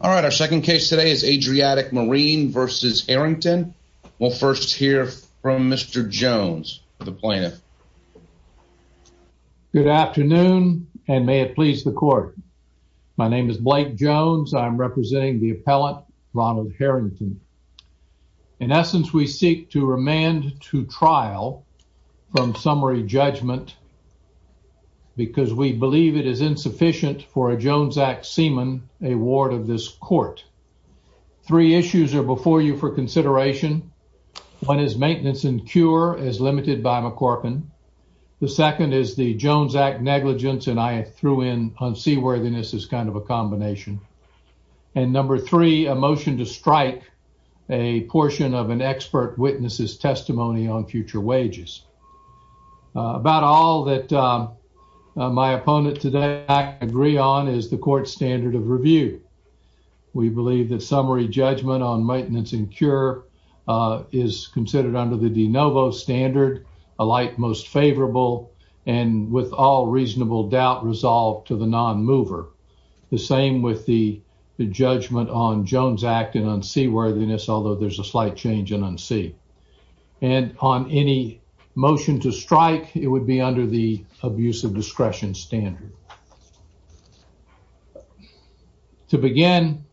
All right, our second case today is Adriatic Marine v. Harrington. We'll first hear from Mr. Jones, the plaintiff. Good afternoon, and may it please the court. My name is Blake Jones. I'm representing the appellant, Ronald Harrington. In essence, we seek to remand to trial from summary judgment because we believe it is insufficient for a Jones Act seaman a ward of this court. Three issues are before you for consideration. One is maintenance and cure, as limited by McCorpin. The second is the Jones Act negligence, and I threw in unseaworthiness as kind of a combination. And number three, a motion to strike a portion of an expert witness's testimony on that. All that my opponent today agree on is the court's standard of review. We believe that summary judgment on maintenance and cure is considered under the de novo standard, a light most favorable, and with all reasonable doubt resolved to the non-mover. The same with the judgment on Jones Act and unseaworthiness, although there's a slight change in unsee. And on any motion to strike, it would be under the abuse of discretion standard. To begin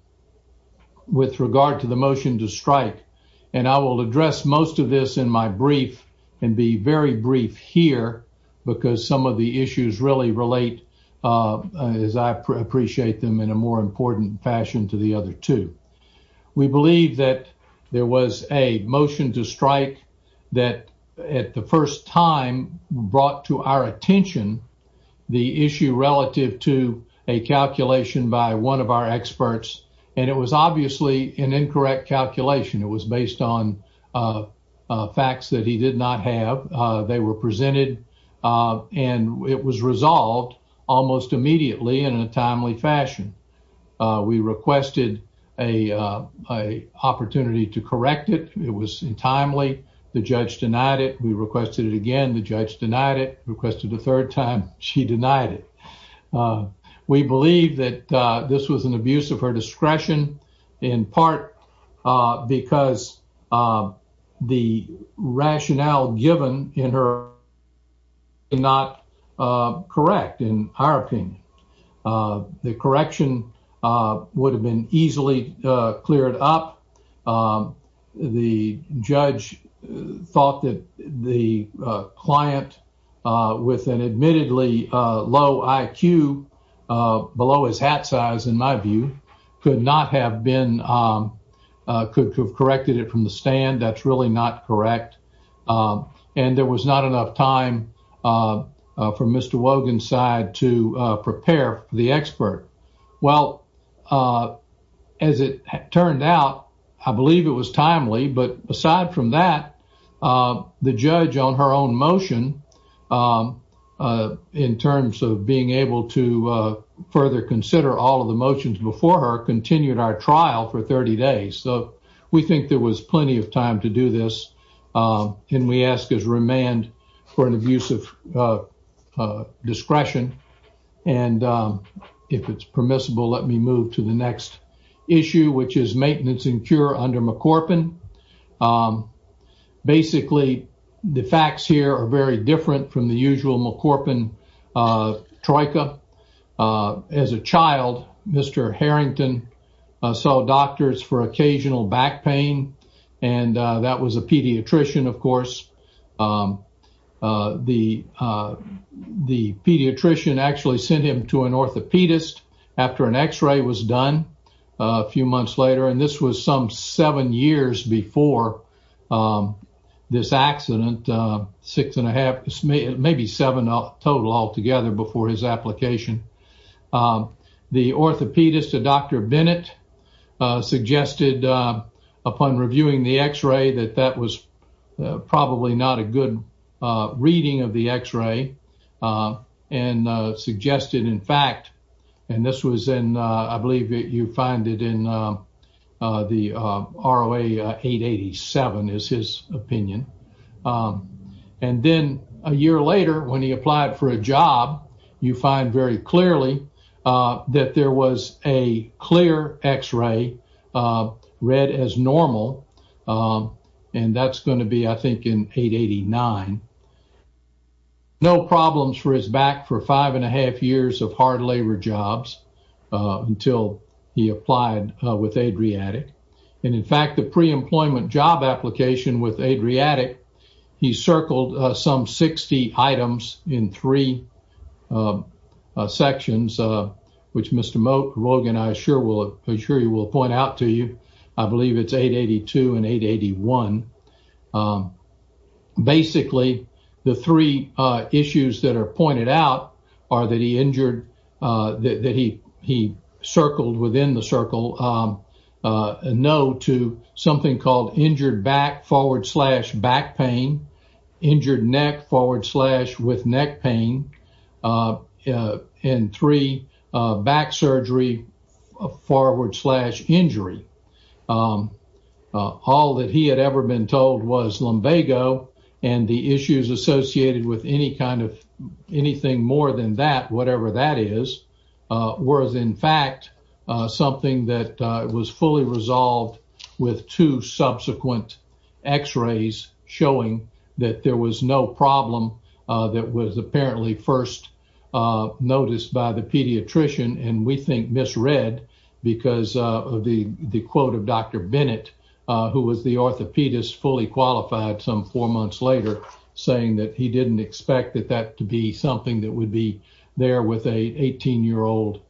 with regard to the motion to strike, and I will address most of this in my brief and be very brief here because some of the issues really relate, as I appreciate them, in a more important fashion to the other two. We believe that there was a motion to strike that at the first time brought to our attention the issue relative to a calculation by one of our experts, and it was obviously an incorrect calculation. It was based on facts that he did not have. They were presented and it was resolved almost immediately and in a timely fashion. We requested an opportunity to correct it. It was timely. The judge denied it. We requested it again. The judge denied it, requested a third time. She denied it. We believe that this was an abuse of her discretion in part because the rationale given in her motion was not correct in our opinion. The correction would have been easily cleared up. The judge thought that the client with an admittedly low IQ, below his hat size in my view, could not have been, could have corrected it from the stand. That's really not correct. And there was not enough time for Mr. Wogan's side to prepare the expert. Well, as it turned out, I believe it was timely, but aside from that, the judge on her own motion in terms of being able to further consider all of the motions before her continued our trial for 30 days. We think there was plenty of time to do this. We ask his remand for an abuse of discretion. If it's permissible, let me move to the next issue, which is maintenance and cure under McCorpin. Basically, the facts here are very different from the usual McCorpin troika. As a child, Mr. Harrington saw doctors for occasional back pain, and that was a pediatrician, of course. The pediatrician actually sent him to an orthopedist after an x-ray was done a few months later, and this was some seven years before this accident, six and a half, maybe seven total altogether before his application. The orthopedist, Dr. Bennett, suggested upon reviewing the x-ray that that was probably not a good reading of the x-ray and suggested, in fact, and this was in, I believe you find it in the ROA 887 is his opinion. Then, a year later, when he applied for a job, you find very clearly that there was a clear x-ray read as normal, and that's going to be, I think, in 889. No problems for his back for five and a half years of hard labor jobs until he applied with Adriatic. In fact, the pre-employment job application with Adriatic, he circled some 60 items in three sections, which Mr. Rogan, I assure you, will point out to you. I believe it's 882 and 881. Basically, the three issues that are pointed out are that he circled within the circle a no to something called injured back forward slash back pain, injured neck forward slash with neck pain, and three, back surgery forward slash injury. All that he had ever been told was lumbago and the issues associated with any kind of anything more than that, whatever that is, was, in fact, something that was fully resolved with two subsequent x-rays showing that there was no problem that was apparently first noticed by the pediatrician, and we think misread because of the quote of Dr. Bennett, who was the orthopedist fully qualified some four months later saying that he didn't expect that that to be something that would be there with an 18-year-old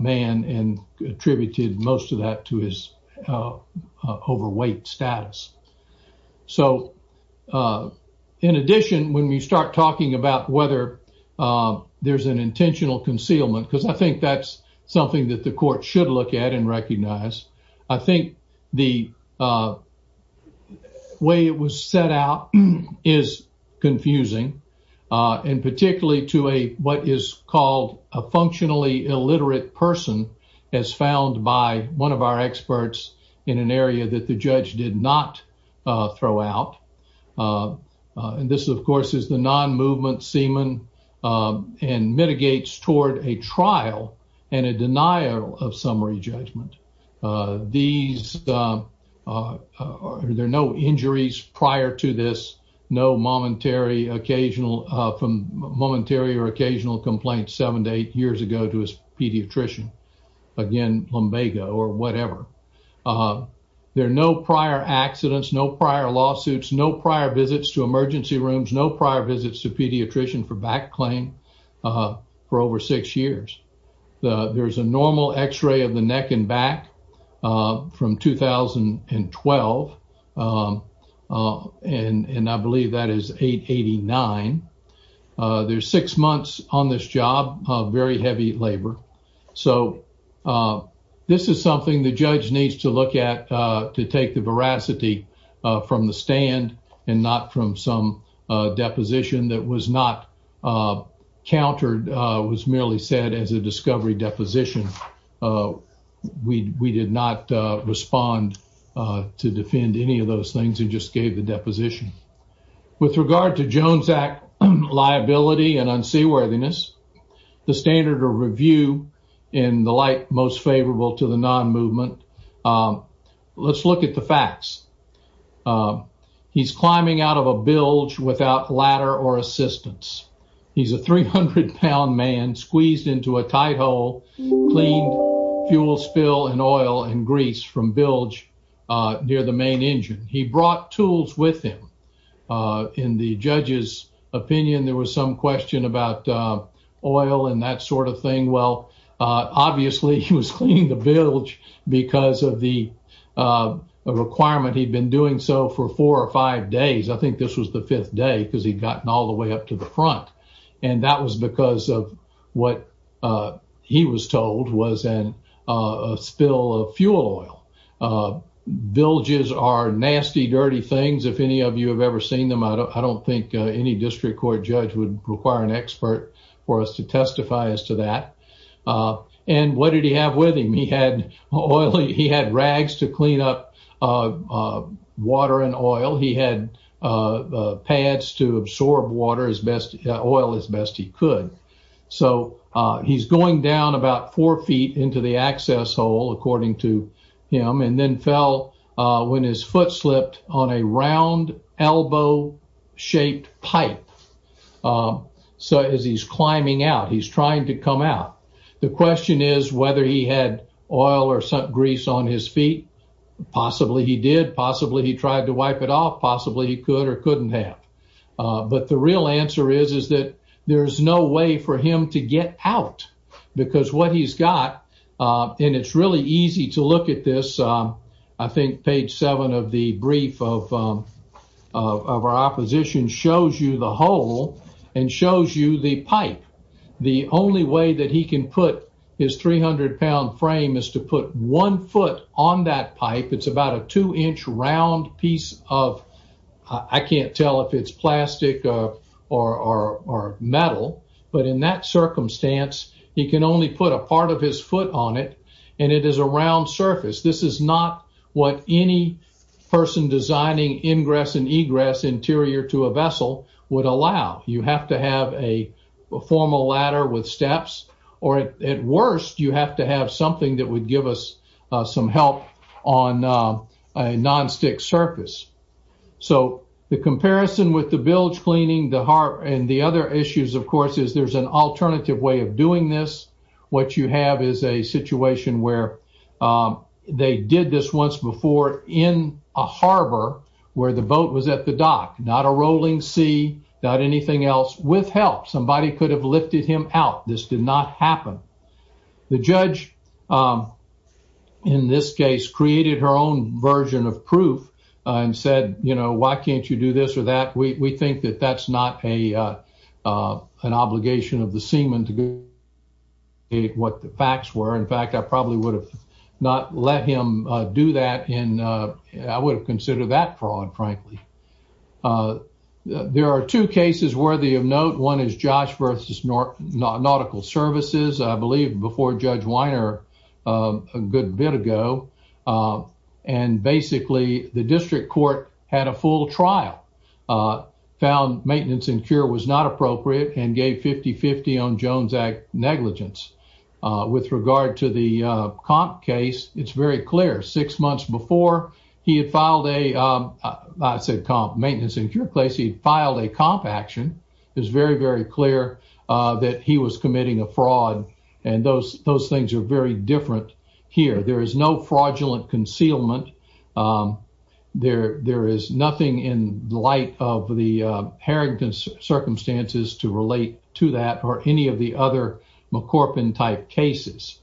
man and attributed most of that to his overweight status. In addition, when we start talking about whether there's an intentional concealment, I think that's something that the court should look at and recognize. I think the way it was set out is confusing, and particularly to what is called a functionally illiterate person as found by one of our experts in an area that the judge did not throw out. And this, of course, is the non-movement semen and mitigates toward a trial and a denial of summary judgment. There are no injuries prior to this, no momentary or occasional complaints seven to eight years ago to his pediatrician, again, lumbago or whatever. There are no prior accidents, no prior lawsuits, no prior visits to emergency rooms, no prior visits to pediatrician for back claim for over six years. There's a normal x-ray of the neck and back from 2012, and I believe that is 889. There's six months on this job of very heavy labor. So this is something the judge needs to look at to take the veracity from the stand and not from some deposition that was not countered, was merely said as a discovery deposition. We did not respond to defend any of those things and just gave the deposition. With regard to Jones Act liability and unseaworthiness, the standard of review in the light most favorable to the non-movement, let's look at the facts. He's climbing out of a bilge without ladder or assistance. He's a 300-pound man squeezed into a tight hole, clean fuel spill and oil and grease from bilge near the main engine. He brought tools with him. In the judge's opinion, there was some question about oil and that sort of thing. Well, obviously he was cleaning the bilge because of the requirement. He'd been doing so for four or five days. I think this was the fifth day because he'd gotten all the way up to the front, and that was because of what he was told was a spill of fuel oil. Bilges are nasty, dirty things. If any of you have ever seen them, I don't think any district court judge would require an expert for us to testify as to that. What did he have with him? He had rags to clean up water and oil. He had pads to absorb oil as best he could. So he's going down about four feet into the access hole, according to him, and then fell when his foot slipped on a round elbow-shaped pipe. As he's climbing out, he's trying to come out. The question is whether he had oil or grease on his feet. Possibly he did. Possibly he tried to wipe it off. Possibly he could or couldn't have. The real answer is that there's no way for him to get out because what he's got—and it's really easy to look at this. I think page seven of the brief of our opposition shows you the hole and shows you the pipe. The only way that he can put his 300-pound frame is to put one foot on that pipe. It's about a two-inch round piece of—I can't tell if it's plastic or metal. In that circumstance, he can only put a part of his foot on it. It is a round surface. This is not what any person designing ingress and egress interior to a vessel would allow. You have to have a formal ladder with steps, or at worst, you have to have something that would give us some help on a nonstick surface. The comparison with the bilge cleaning and the other issues, of course, is there's an alternative way of doing this. What you have is a situation where they did this once before in a harbor where the boat was at the dock. Not a rolling sea, not anything else, with help. Somebody could have lifted him out. This did not happen. The judge, in this case, created her own version of proof and said, you know, why can't you do this or that? We think that that's not an obligation of the seaman to what the facts were. In fact, I probably would have not let him do that. I would have considered that fraud, frankly. There are two cases worthy of note. One is Josh versus Nautical Services, I believe, before Judge Weiner a good bit ago. Basically, the district court had a full trial, found maintenance and cure was not appropriate, and gave 50-50 on Jones Act negligence. With regard to the comp case, it's very clear. Six months before he had filed a maintenance and cure case, he filed a comp action. It's very, very clear that he was committing a fraud. Those things are very different here. There is no fraudulent concealment. There is nothing in light of the Harrington circumstances to relate to that or any of the McCorpin-type cases.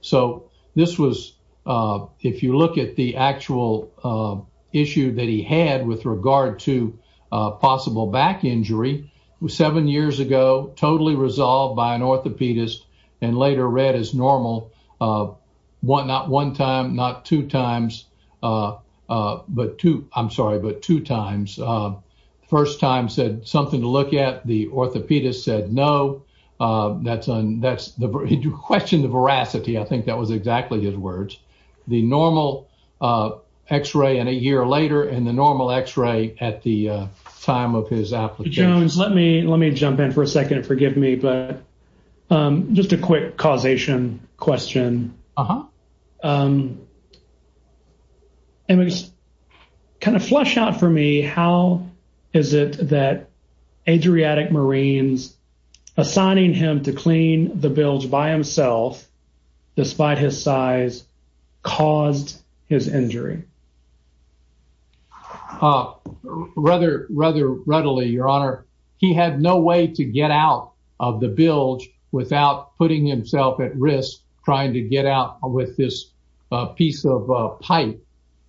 If you look at the actual issue that he had with regard to possible back injury, seven years ago, totally resolved by an orthopedist and later read as no. He questioned the veracity. I think that was exactly his words. The normal x-ray in a year later and the normal x-ray at the time of his application. Jones, let me jump in for a second. Forgive me, but just a quick causation question. Just flush out for me, how is it that Adriatic Marines assigning him to clean the bilge by himself, despite his size, caused his injury? Rather readily, Your Honor. He had no way to get out of the bilge without putting himself at risk trying to get out with this piece of pipe.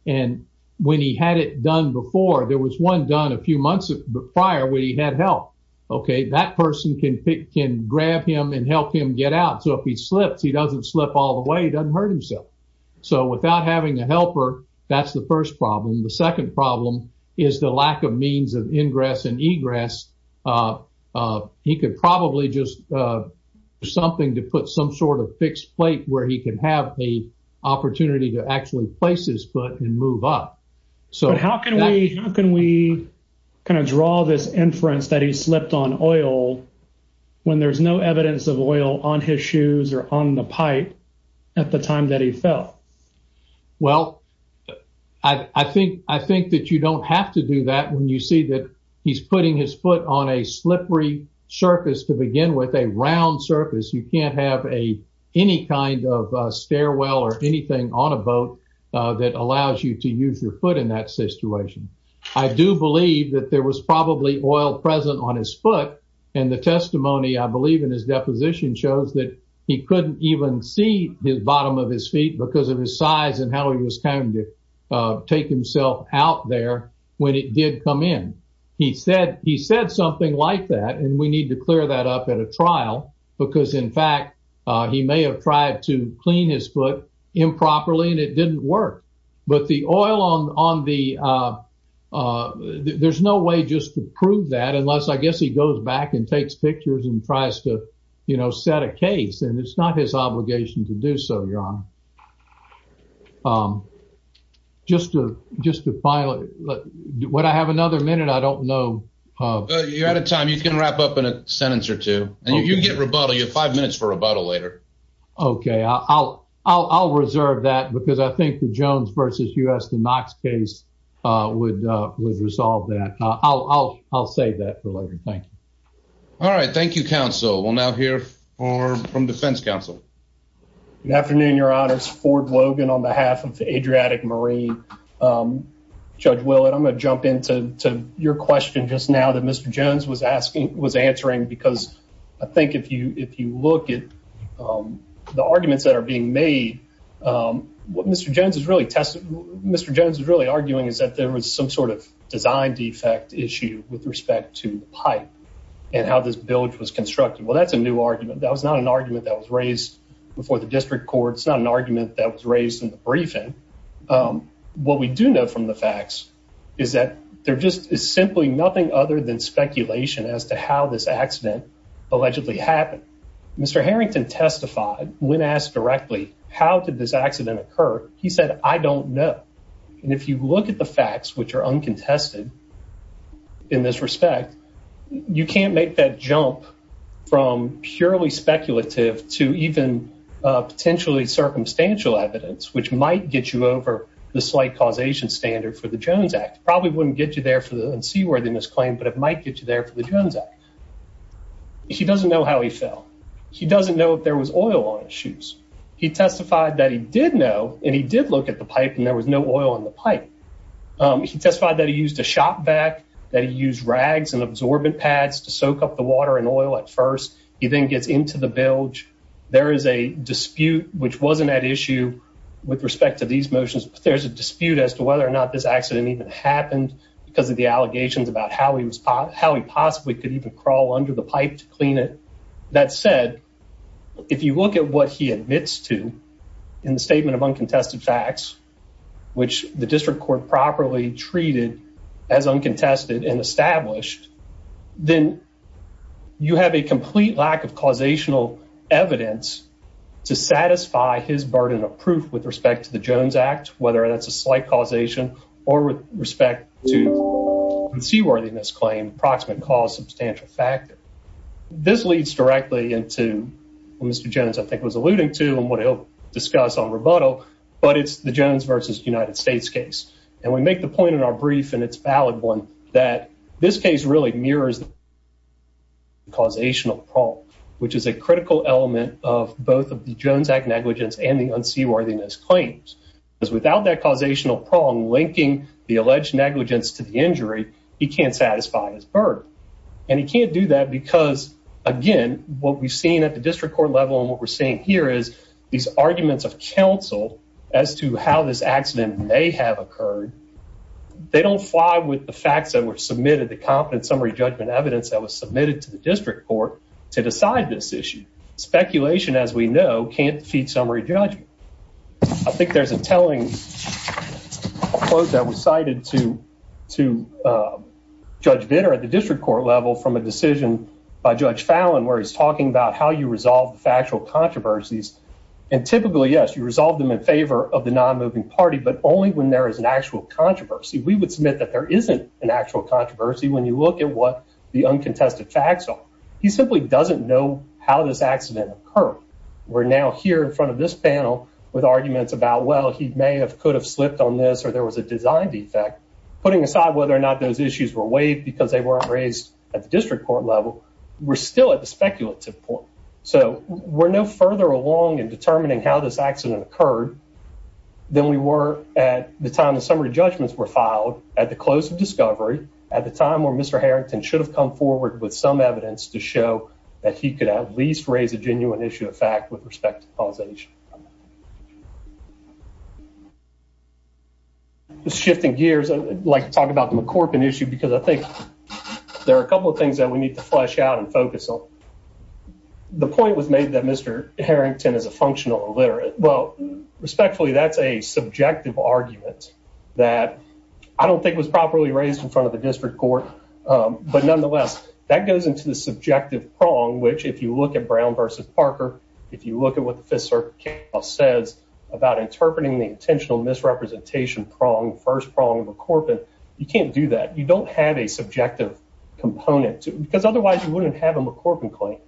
When he had it done before, there was one done a few months prior where he had help. That person can grab him and help him get out. If he slips, he doesn't slip all the way. He doesn't hurt himself. Without having a helper, that's the first problem. The second problem is the lack of means of ingress and egress. He could probably just do something to put some sort of fixed plate where he could have the opportunity to actually place his foot and move up. How can we kind of draw this inference that he slipped on oil when there's no evidence of oil on his shoes or on the pipe at the time that he fell? Well, I think that you don't have to do that when you see that he's putting his foot on a slippery surface to begin with, a round surface. You can't have any kind of stairwell or anything on a boat that allows you to use your foot in that situation. I do believe that there was probably oil present on his foot, and the testimony, I believe, in his deposition shows that he couldn't even see the bottom of his feet because of his size and how he was trying to take himself out there when it did come in. He said something like that, and we need to clear that up at a trial because, in fact, he may have tried to clean his foot improperly, and it didn't work. But the oil on the... There's no way just to prove that unless, I guess, he goes back and takes pictures and tries to set a case, and it's not his obligation to do so, Your Honor. Just to finally... Would I have another minute? I don't know. You're out of time. You can wrap up in a sentence or two, and you can get rebuttal. You have five minutes for rebuttal later. Okay. I'll reserve that because I think the Jones versus U.S. to Knox case would resolve that. I'll save that for later. Thank you. All right. Thank you, counsel. We'll now hear from defense counsel. Good afternoon, Your Honors. Ford Logan on behalf of the Adriatic Marine. Judge Willett, I'm going to jump into your question just now that Mr. Jones was answering because I think if you look at the arguments that are being made, what Mr. Jones is really testing... Mr. Jones is really arguing is that there was some sort of design defect issue with respect to the pipe and how this bilge was constructed. Well, that's a new argument. That was not an argument that was raised before the district court. It's not an argument that was raised in the briefing. What we do know from the facts is that there just is simply nothing other than speculation as to how this accident allegedly happened. Mr. Harrington testified when asked directly, how did this accident occur? He said, I don't know. If you look at the facts, which are uncontested in this respect, you can't make that jump from purely speculative to even potentially circumstantial evidence, which might get you over the slight causation standard for the Jones Act. Probably wouldn't get you there for the seaworthiness claim, but it might get you there for the Jones Act. He doesn't know how he fell. He doesn't know if there was oil on his shoes. He testified that he did know and he did look at the pipe and there was no oil on the pipe. He testified that he used a shop vac, that he used rags and oil at first. He then gets into the bilge. There is a dispute, which wasn't at issue with respect to these motions, but there's a dispute as to whether or not this accident even happened because of the allegations about how he was, how he possibly could even crawl under the pipe to clean it. That said, if you look at what he admits to in the statement of uncontested facts, which the complete lack of causational evidence to satisfy his burden of proof with respect to the Jones Act, whether that's a slight causation or with respect to the seaworthiness claim, approximate cause, substantial factor. This leads directly into what Mr. Jones, I think was alluding to and what he'll discuss on rebuttal, but it's the Jones versus United States case. And we make the point in our prong, which is a critical element of both of the Jones Act negligence and the unseaworthiness claims. Because without that causational prong linking the alleged negligence to the injury, he can't satisfy his burden. And he can't do that because, again, what we've seen at the district court level and what we're seeing here is these arguments of counsel as to how this accident may have occurred. They don't fly with the facts that were submitted, the competent summary judgment evidence that was submitted to the district court to decide this issue. Speculation, as we know, can't defeat summary judgment. I think there's a telling quote that was cited to Judge Bitter at the district court level from a decision by Judge Fallon, where he's talking about how you resolve the factual controversies. And typically, yes, you resolve them in favor of the non-moving party, but only when there is an actual controversy. We would submit that there isn't an actual controversy when you look at what the uncontested facts are. He simply doesn't know how this accident occurred. We're now here in front of this panel with arguments about, well, he may have could have slipped on this or there was a design defect. Putting aside whether or not those issues were waived because they weren't raised at the district court level, we're still at the speculative point. So we're no further along in determining how this accident occurred than we were at the time the judgments were filed at the close of discovery, at the time where Mr. Harrington should have come forward with some evidence to show that he could at least raise a genuine issue of fact with respect to causation. Just shifting gears, I'd like to talk about the McCorpan issue because I think there are a couple of things that we need to flesh out and focus on. The point was made that Mr. Harrington is a functional illiterate. Well, respectfully, that's a subjective argument that I don't think was properly raised in front of the district court. But nonetheless, that goes into the subjective prong, which if you look at Brown versus Parker, if you look at what the Fifth Circuit says about interpreting the intentional misrepresentation prong, first prong of McCorpan, you can't do that. You don't have a subjective component because otherwise you wouldn't have a McCorpan claim,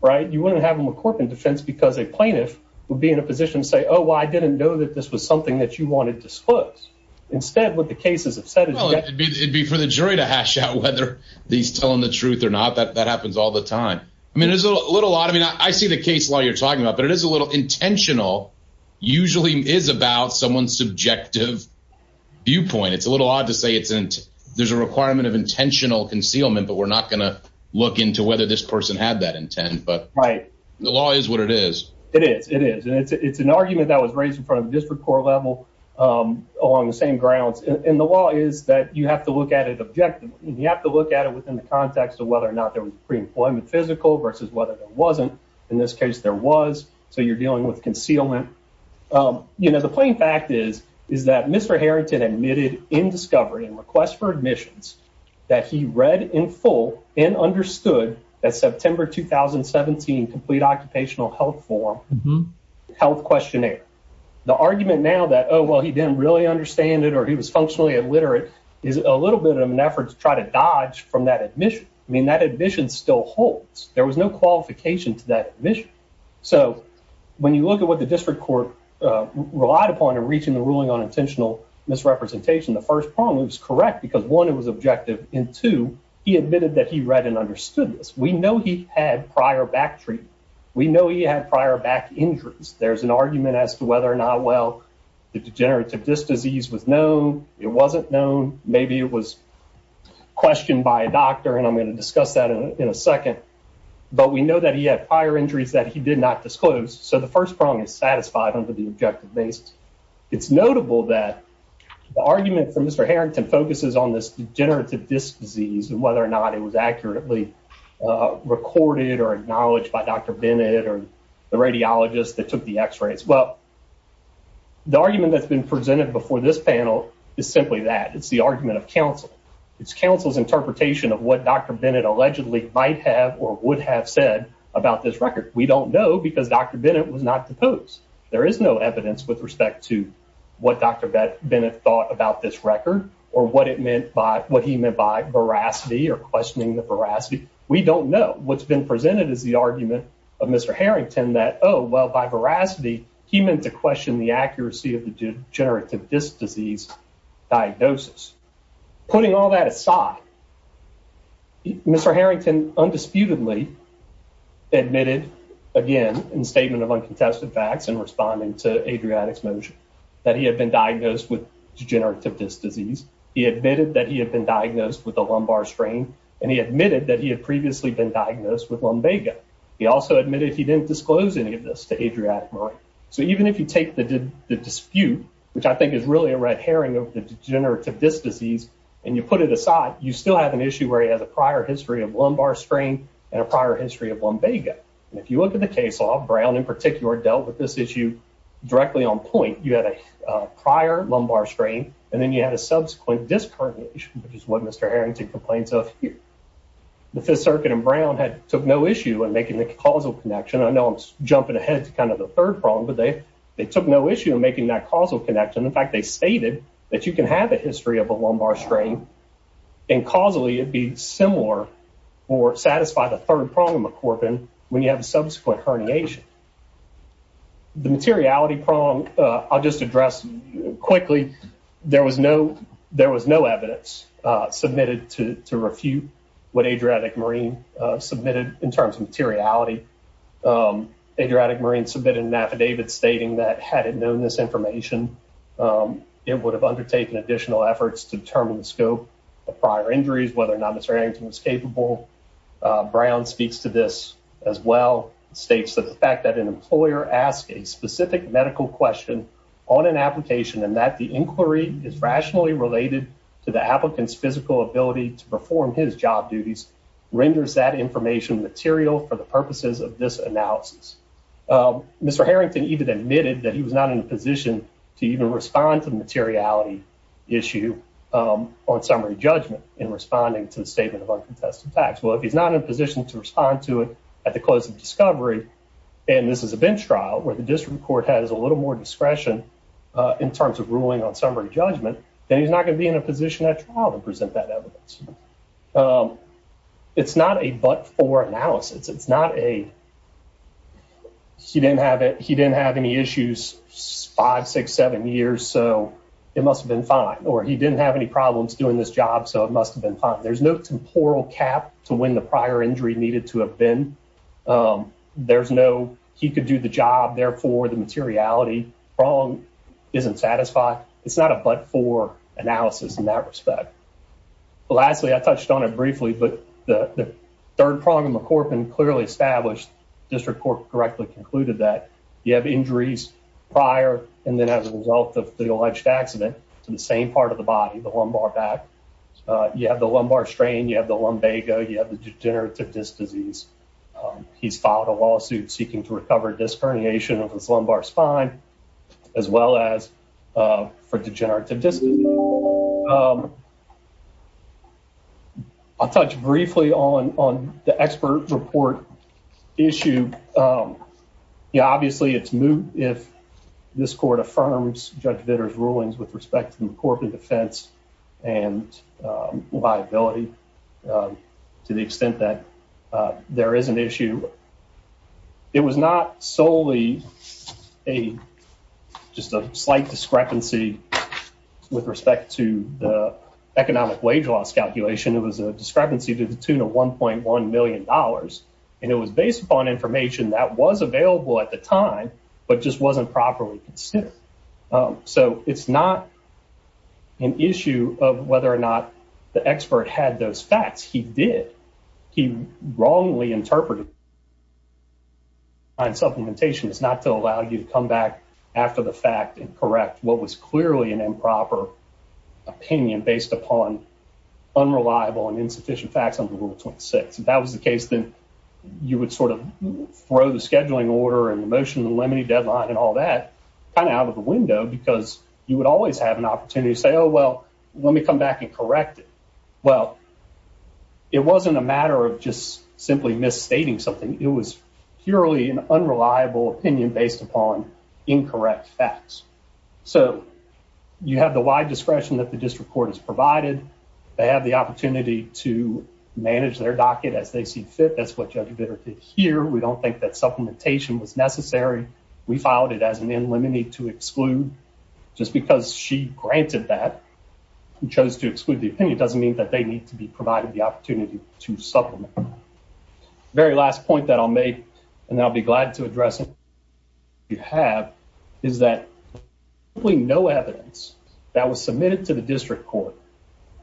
right? You wouldn't have a McCorpan defense because a plaintiff would be in a position to say, oh, well, I didn't know that this was something that you wanted to disclose. Instead, what the case has said is- Well, it'd be for the jury to hash out whether he's telling the truth or not. That happens all the time. I mean, there's a little odd. I mean, I see the case law you're talking about, but it is a little intentional, usually is about someone's subjective viewpoint. It's a little odd to say there's a requirement of intentional concealment, but we're not going to look into whether this person had that intent. The law is what it is. It is. It is. It's an argument that was raised in front of the district court level along the same grounds. The law is that you have to look at it objectively. You have to look at it within the context of whether or not there was pre-employment physical versus whether there wasn't. In this case, there was, so you're dealing with concealment. The plain fact is that Mr. Harrington admitted in discovery and request for admissions that he read in full and understood that September 2017 complete occupational health form health questionnaire. The argument now that, oh, well, he didn't really understand it or he was functionally illiterate is a little bit of an effort to try to dodge from that admission. I mean, that admission still holds. There was no qualification to that admission. So when you look at what the district court relied upon in reaching the ruling on intentional misrepresentation, the first prong was correct because one, it was understood. We know he had prior back treatment. We know he had prior back injuries. There's an argument as to whether or not, well, the degenerative disc disease was known. It wasn't known. Maybe it was questioned by a doctor and I'm going to discuss that in a second, but we know that he had prior injuries that he did not disclose. So the first prong is satisfied under the objective based. It's notable that the argument for Mr. Harrington focuses on this degenerative disc disease and whether or not it was accurately recorded or acknowledged by Dr. Bennett or the radiologist that took the x-rays. Well, the argument that's been presented before this panel is simply that. It's the argument of counsel. It's counsel's interpretation of what Dr. Bennett allegedly might have or would have said about this record. We don't know because Dr. Bennett was not deposed. There is no evidence with respect to what Dr. Bennett thought about this record or what it meant by what he meant by veracity or questioning the veracity. We don't know. What's been presented is the argument of Mr. Harrington that, oh, well, by veracity, he meant to question the accuracy of the degenerative disc disease diagnosis. Putting all that aside, Mr. Harrington undisputedly admitted again in statement of uncontested facts in responding to Adriatic's motion that he had been diagnosed with degenerative disc disease. He admitted that he had been diagnosed with a lumbar strain, and he admitted that he had previously been diagnosed with lumbago. He also admitted he didn't disclose any of this to Adriatic Marine. So even if you take the dispute, which I think is really a red herring of the degenerative disc disease, and you put it aside, you still have an issue where he has a prior history of lumbar and a prior history of lumbago. And if you look at the case law, Brown in particular dealt with this issue directly on point. You had a prior lumbar strain, and then you had a subsequent disc herniation, which is what Mr. Harrington complains of here. The Fifth Circuit and Brown took no issue in making the causal connection. I know I'm jumping ahead to kind of the third prong, but they took no issue in making that causal connection. In fact, they stated that you can have a history of a lumbar strain, and causally it'd be similar or satisfy the third prong of McCorpin when you have a subsequent herniation. The materiality prong, I'll just address quickly. There was no evidence submitted to refute what Adriatic Marine submitted in terms of materiality. Adriatic Marine submitted an affidavit stating that had it known this information, it would have undertaken additional efforts to determine the scope of prior injuries, whether or not Mr. Harrington was capable. Brown speaks to this as well, states that the fact that an employer asks a specific medical question on an application and that the inquiry is rationally related to the applicant's physical ability to perform his job duties renders that information material for the purposes of this analysis. Mr. Harrington even admitted that he was not in a position to respond to the materiality issue on summary judgment in responding to the statement of uncontested tax. Well, if he's not in a position to respond to it at the close of discovery, and this is a bench trial where the district court has a little more discretion in terms of ruling on summary judgment, then he's not going to be in a position at trial to present that evidence. It's not a but-for analysis. He didn't have any issues, five, six, seven years, so it must have been fine, or he didn't have any problems doing this job, so it must have been fine. There's no temporal cap to when the prior injury needed to have been. There's no, he could do the job, therefore the materiality wrong isn't satisfied. It's not a but-for analysis in that respect. Lastly, I touched on it briefly, but the third prong of prior and then as a result of the alleged accident to the same part of the body, the lumbar back, you have the lumbar strain, you have the lumbago, you have the degenerative disc disease. He's filed a lawsuit seeking to recover disc herniation of his lumbar spine as well as for degenerative disc disease. I'll touch briefly on the expert report issue. Obviously, it's moot if this court affirms Judge Vitter's rulings with respect to the corporate defense and liability to the extent that there is an issue. It was not solely a just a slight discrepancy with respect to the economic wage loss calculation. It was a information that was available at the time, but just wasn't properly considered. It's not an issue of whether or not the expert had those facts. He did. He wrongly interpreted on supplementation. It's not to allow you to come back after the fact and correct what was clearly an improper opinion based upon unreliable and insufficient facts under Rule 26. If that was the case, then you would sort of throw the scheduling order and the motion to limit the deadline and all that kind of out of the window because you would always have an opportunity to say, oh, well, let me come back and correct it. Well, it wasn't a matter of just simply misstating something. It was purely an unreliable opinion based upon incorrect facts. So, you have the wide discretion that the district court has provided. They have the opportunity to manage their docket as they see fit. That's what Judge Bitter did here. We don't think that supplementation was necessary. We filed it as an in limine to exclude. Just because she granted that and chose to exclude the opinion doesn't mean that they need to be provided the opportunity to supplement. Very last point that I'll make, and I'll be glad to address it, you have is that we know evidence that was submitted to the district court.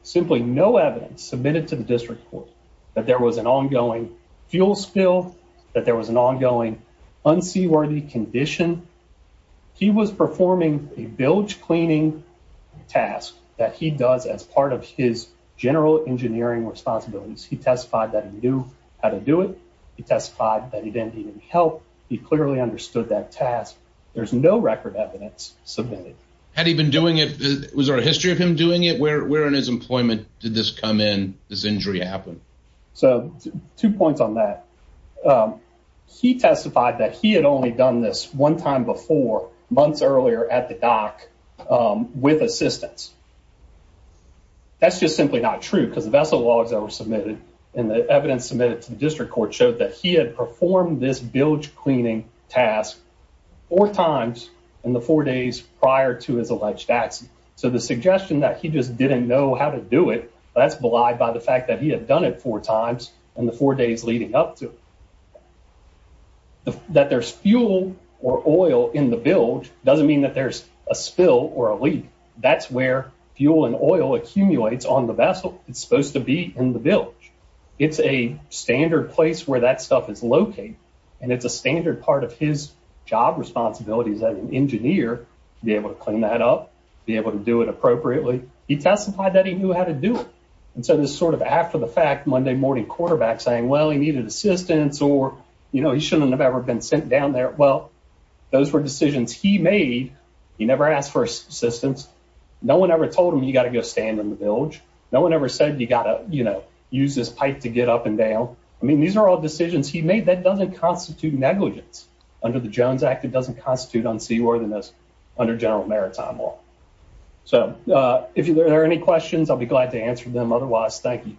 Simply no evidence submitted to the district court that there was an ongoing fuel spill, that there was an ongoing unseaworthy condition. He was performing a bilge cleaning task that he does as part of his general engineering responsibilities. He testified that he knew how to do it. He testified that he didn't need any help. He clearly understood that task. There's no record evidence submitted. Had he been doing it? Was there a history of where in his employment did this come in, this injury happen? Two points on that. He testified that he had only done this one time before, months earlier at the dock with assistance. That's just simply not true because the vessel logs that were submitted and the evidence submitted to the district court showed that he had performed this bilge cleaning task four times in the four days prior to his alleged accident. The suggestion that he just didn't know how to do it, that's belied by the fact that he had done it four times in the four days leading up to it. That there's fuel or oil in the bilge doesn't mean that there's a spill or a leak. That's where fuel and oil accumulates on the vessel. It's supposed to be in the bilge. It's a standard place where that stuff is located, and it's a standard part of his job responsibilities as an be able to clean that up, be able to do it appropriately. He testified that he knew how to do it, and so this sort of after-the-fact Monday morning quarterback saying, well, he needed assistance or, you know, he shouldn't have ever been sent down there. Well, those were decisions he made. He never asked for assistance. No one ever told him you got to go stand in the bilge. No one ever said you got to, you know, use this pipe to get up and down. I mean, these are all decisions he made. That doesn't constitute negligence under the Jones Act. It doesn't constitute unseaworthiness under general maritime law. So, if there are any questions, I'll be glad to answer them. Otherwise, thank you.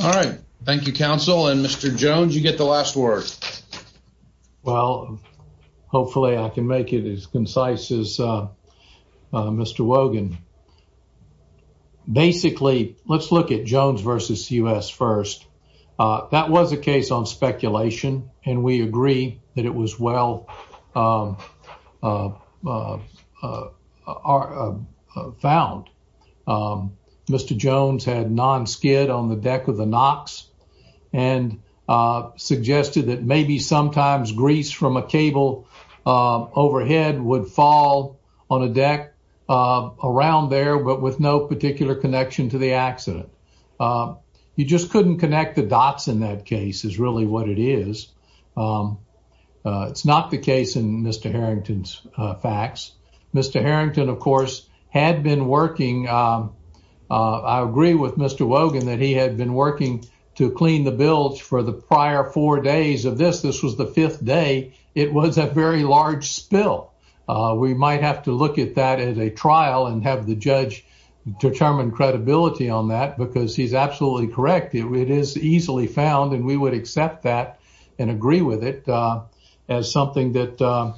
All right. Thank you, counsel. And Mr. Jones, you get the last word. Well, hopefully I can make it as concise as Mr. Wogan. Basically, let's look at Jones versus U.S. first. That was a case on speculation, and we agree that it was well found. Mr. Jones had non-skid on the deck of the Knox and suggested that maybe sometimes grease from a cable overhead would fall on a deck around there, but with no particular connection to the accident. You just couldn't connect the cables. It's not the case in Mr. Harrington's facts. Mr. Harrington, of course, had been working. I agree with Mr. Wogan that he had been working to clean the bilge for the prior four days of this. This was the fifth day. It was a very large spill. We might have to look at that as a trial and have the judge determine credibility on that because he's absolutely correct. It is easily found, and we would accept that and agree with it as something that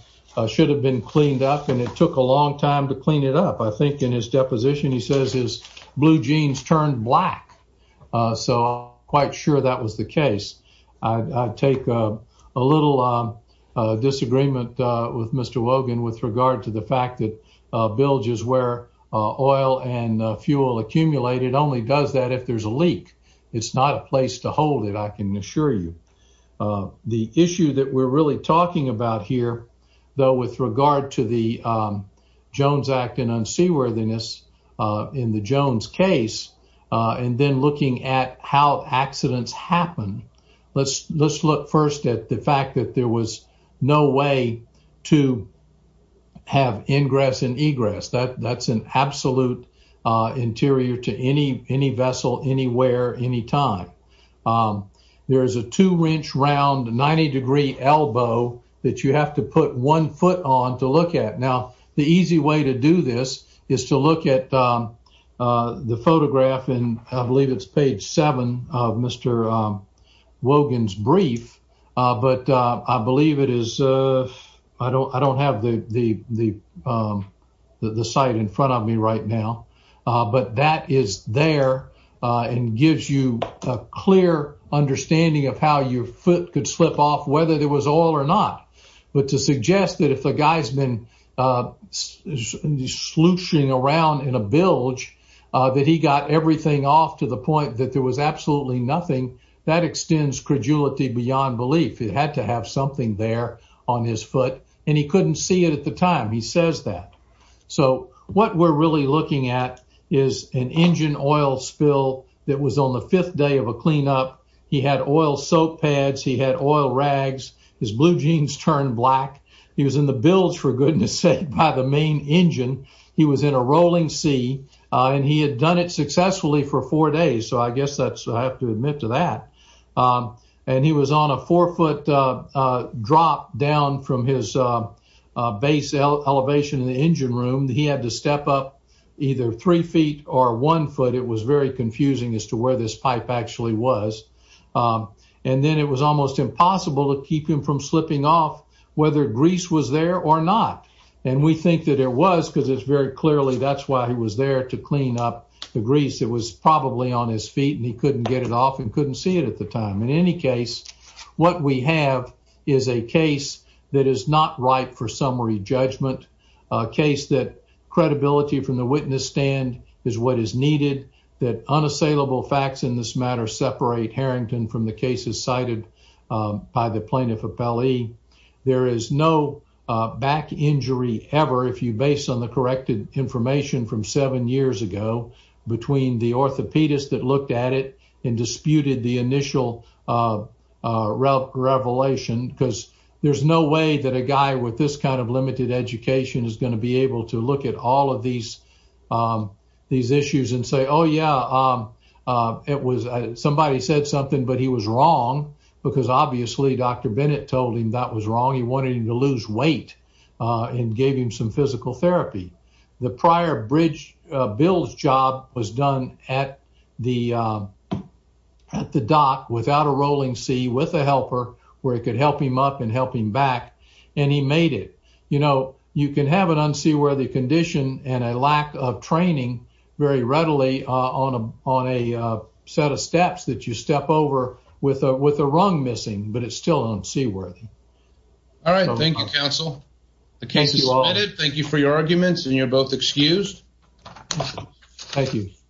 should have been cleaned up, and it took a long time to clean it up. I think in his deposition he says his blue jeans turned black, so I'm quite sure that was the case. I take a little disagreement with Mr. Wogan with regard to the fact that bilges where oil and fuel accumulated only does that if there's a leak. It's not a place to hold it, I can assure you. The issue that we're really talking about here, though, with regard to the Jones Act and unseaworthiness in the Jones case and then looking at how accidents happen, let's look first at the fact that there was no way to have ingress and egress. That's an absolute interior to any vessel anywhere, any time. There's a two-inch round 90-degree elbow that you have to put one foot on to look at. Now, the easy way to do this is to look at the photograph, and I believe it's page seven of Mr. Wogan's book. I don't have the site in front of me right now, but that is there and gives you a clear understanding of how your foot could slip off, whether there was oil or not. But to suggest that if a guy's been slouching around in a bilge, that he got everything off to the point that there was absolutely nothing, that extends credulity beyond belief. He had to have something there on his foot, and he couldn't see it at the time. He says that. So what we're really looking at is an engine oil spill that was on the fifth day of a cleanup. He had oil soap pads. He had oil rags. His blue jeans turned black. He was in the bilge, for goodness sake, by the main engine. He was in a rolling sea, and he had done it successfully for four days, so I guess I have to admit to that. He was on a four-foot drop down from his base elevation in the engine room. He had to step up either three feet or one foot. It was very confusing as to where this pipe actually was. Then it was almost impossible to keep him from slipping off, whether grease was there or not. We think that it was because it's very clearly that's why he was there to clean up the grease. It was probably on his feet, and he couldn't get it off and couldn't see it at the time. In any case, what we have is a case that is not ripe for summary judgment, a case that credibility from the witness stand is what is needed, that unassailable facts in this matter separate Harrington from the cases cited by the plaintiff appellee. There is no back injury ever, if you base on the corrected information from seven years ago, between the orthopedist that looked at it and disputed the initial revelation. There's no way that a guy with this kind of limited education is going to be able to look at all of these issues and say, yeah, somebody said something, but he was wrong because obviously Dr. Bennett told him that was wrong. He wanted him to lose weight and gave him some physical therapy. The prior bridge bill's job was done at the dock without a rolling sea with a helper where it could help him up and help him back, and he made it. You can have an unseaworthy condition and a lack of training very readily on a set of steps that you step over with a rung missing, but it's still unseaworthy. All right. Thank you, counsel. The case is submitted. Thank you for your arguments, and you're both excused. Thank you.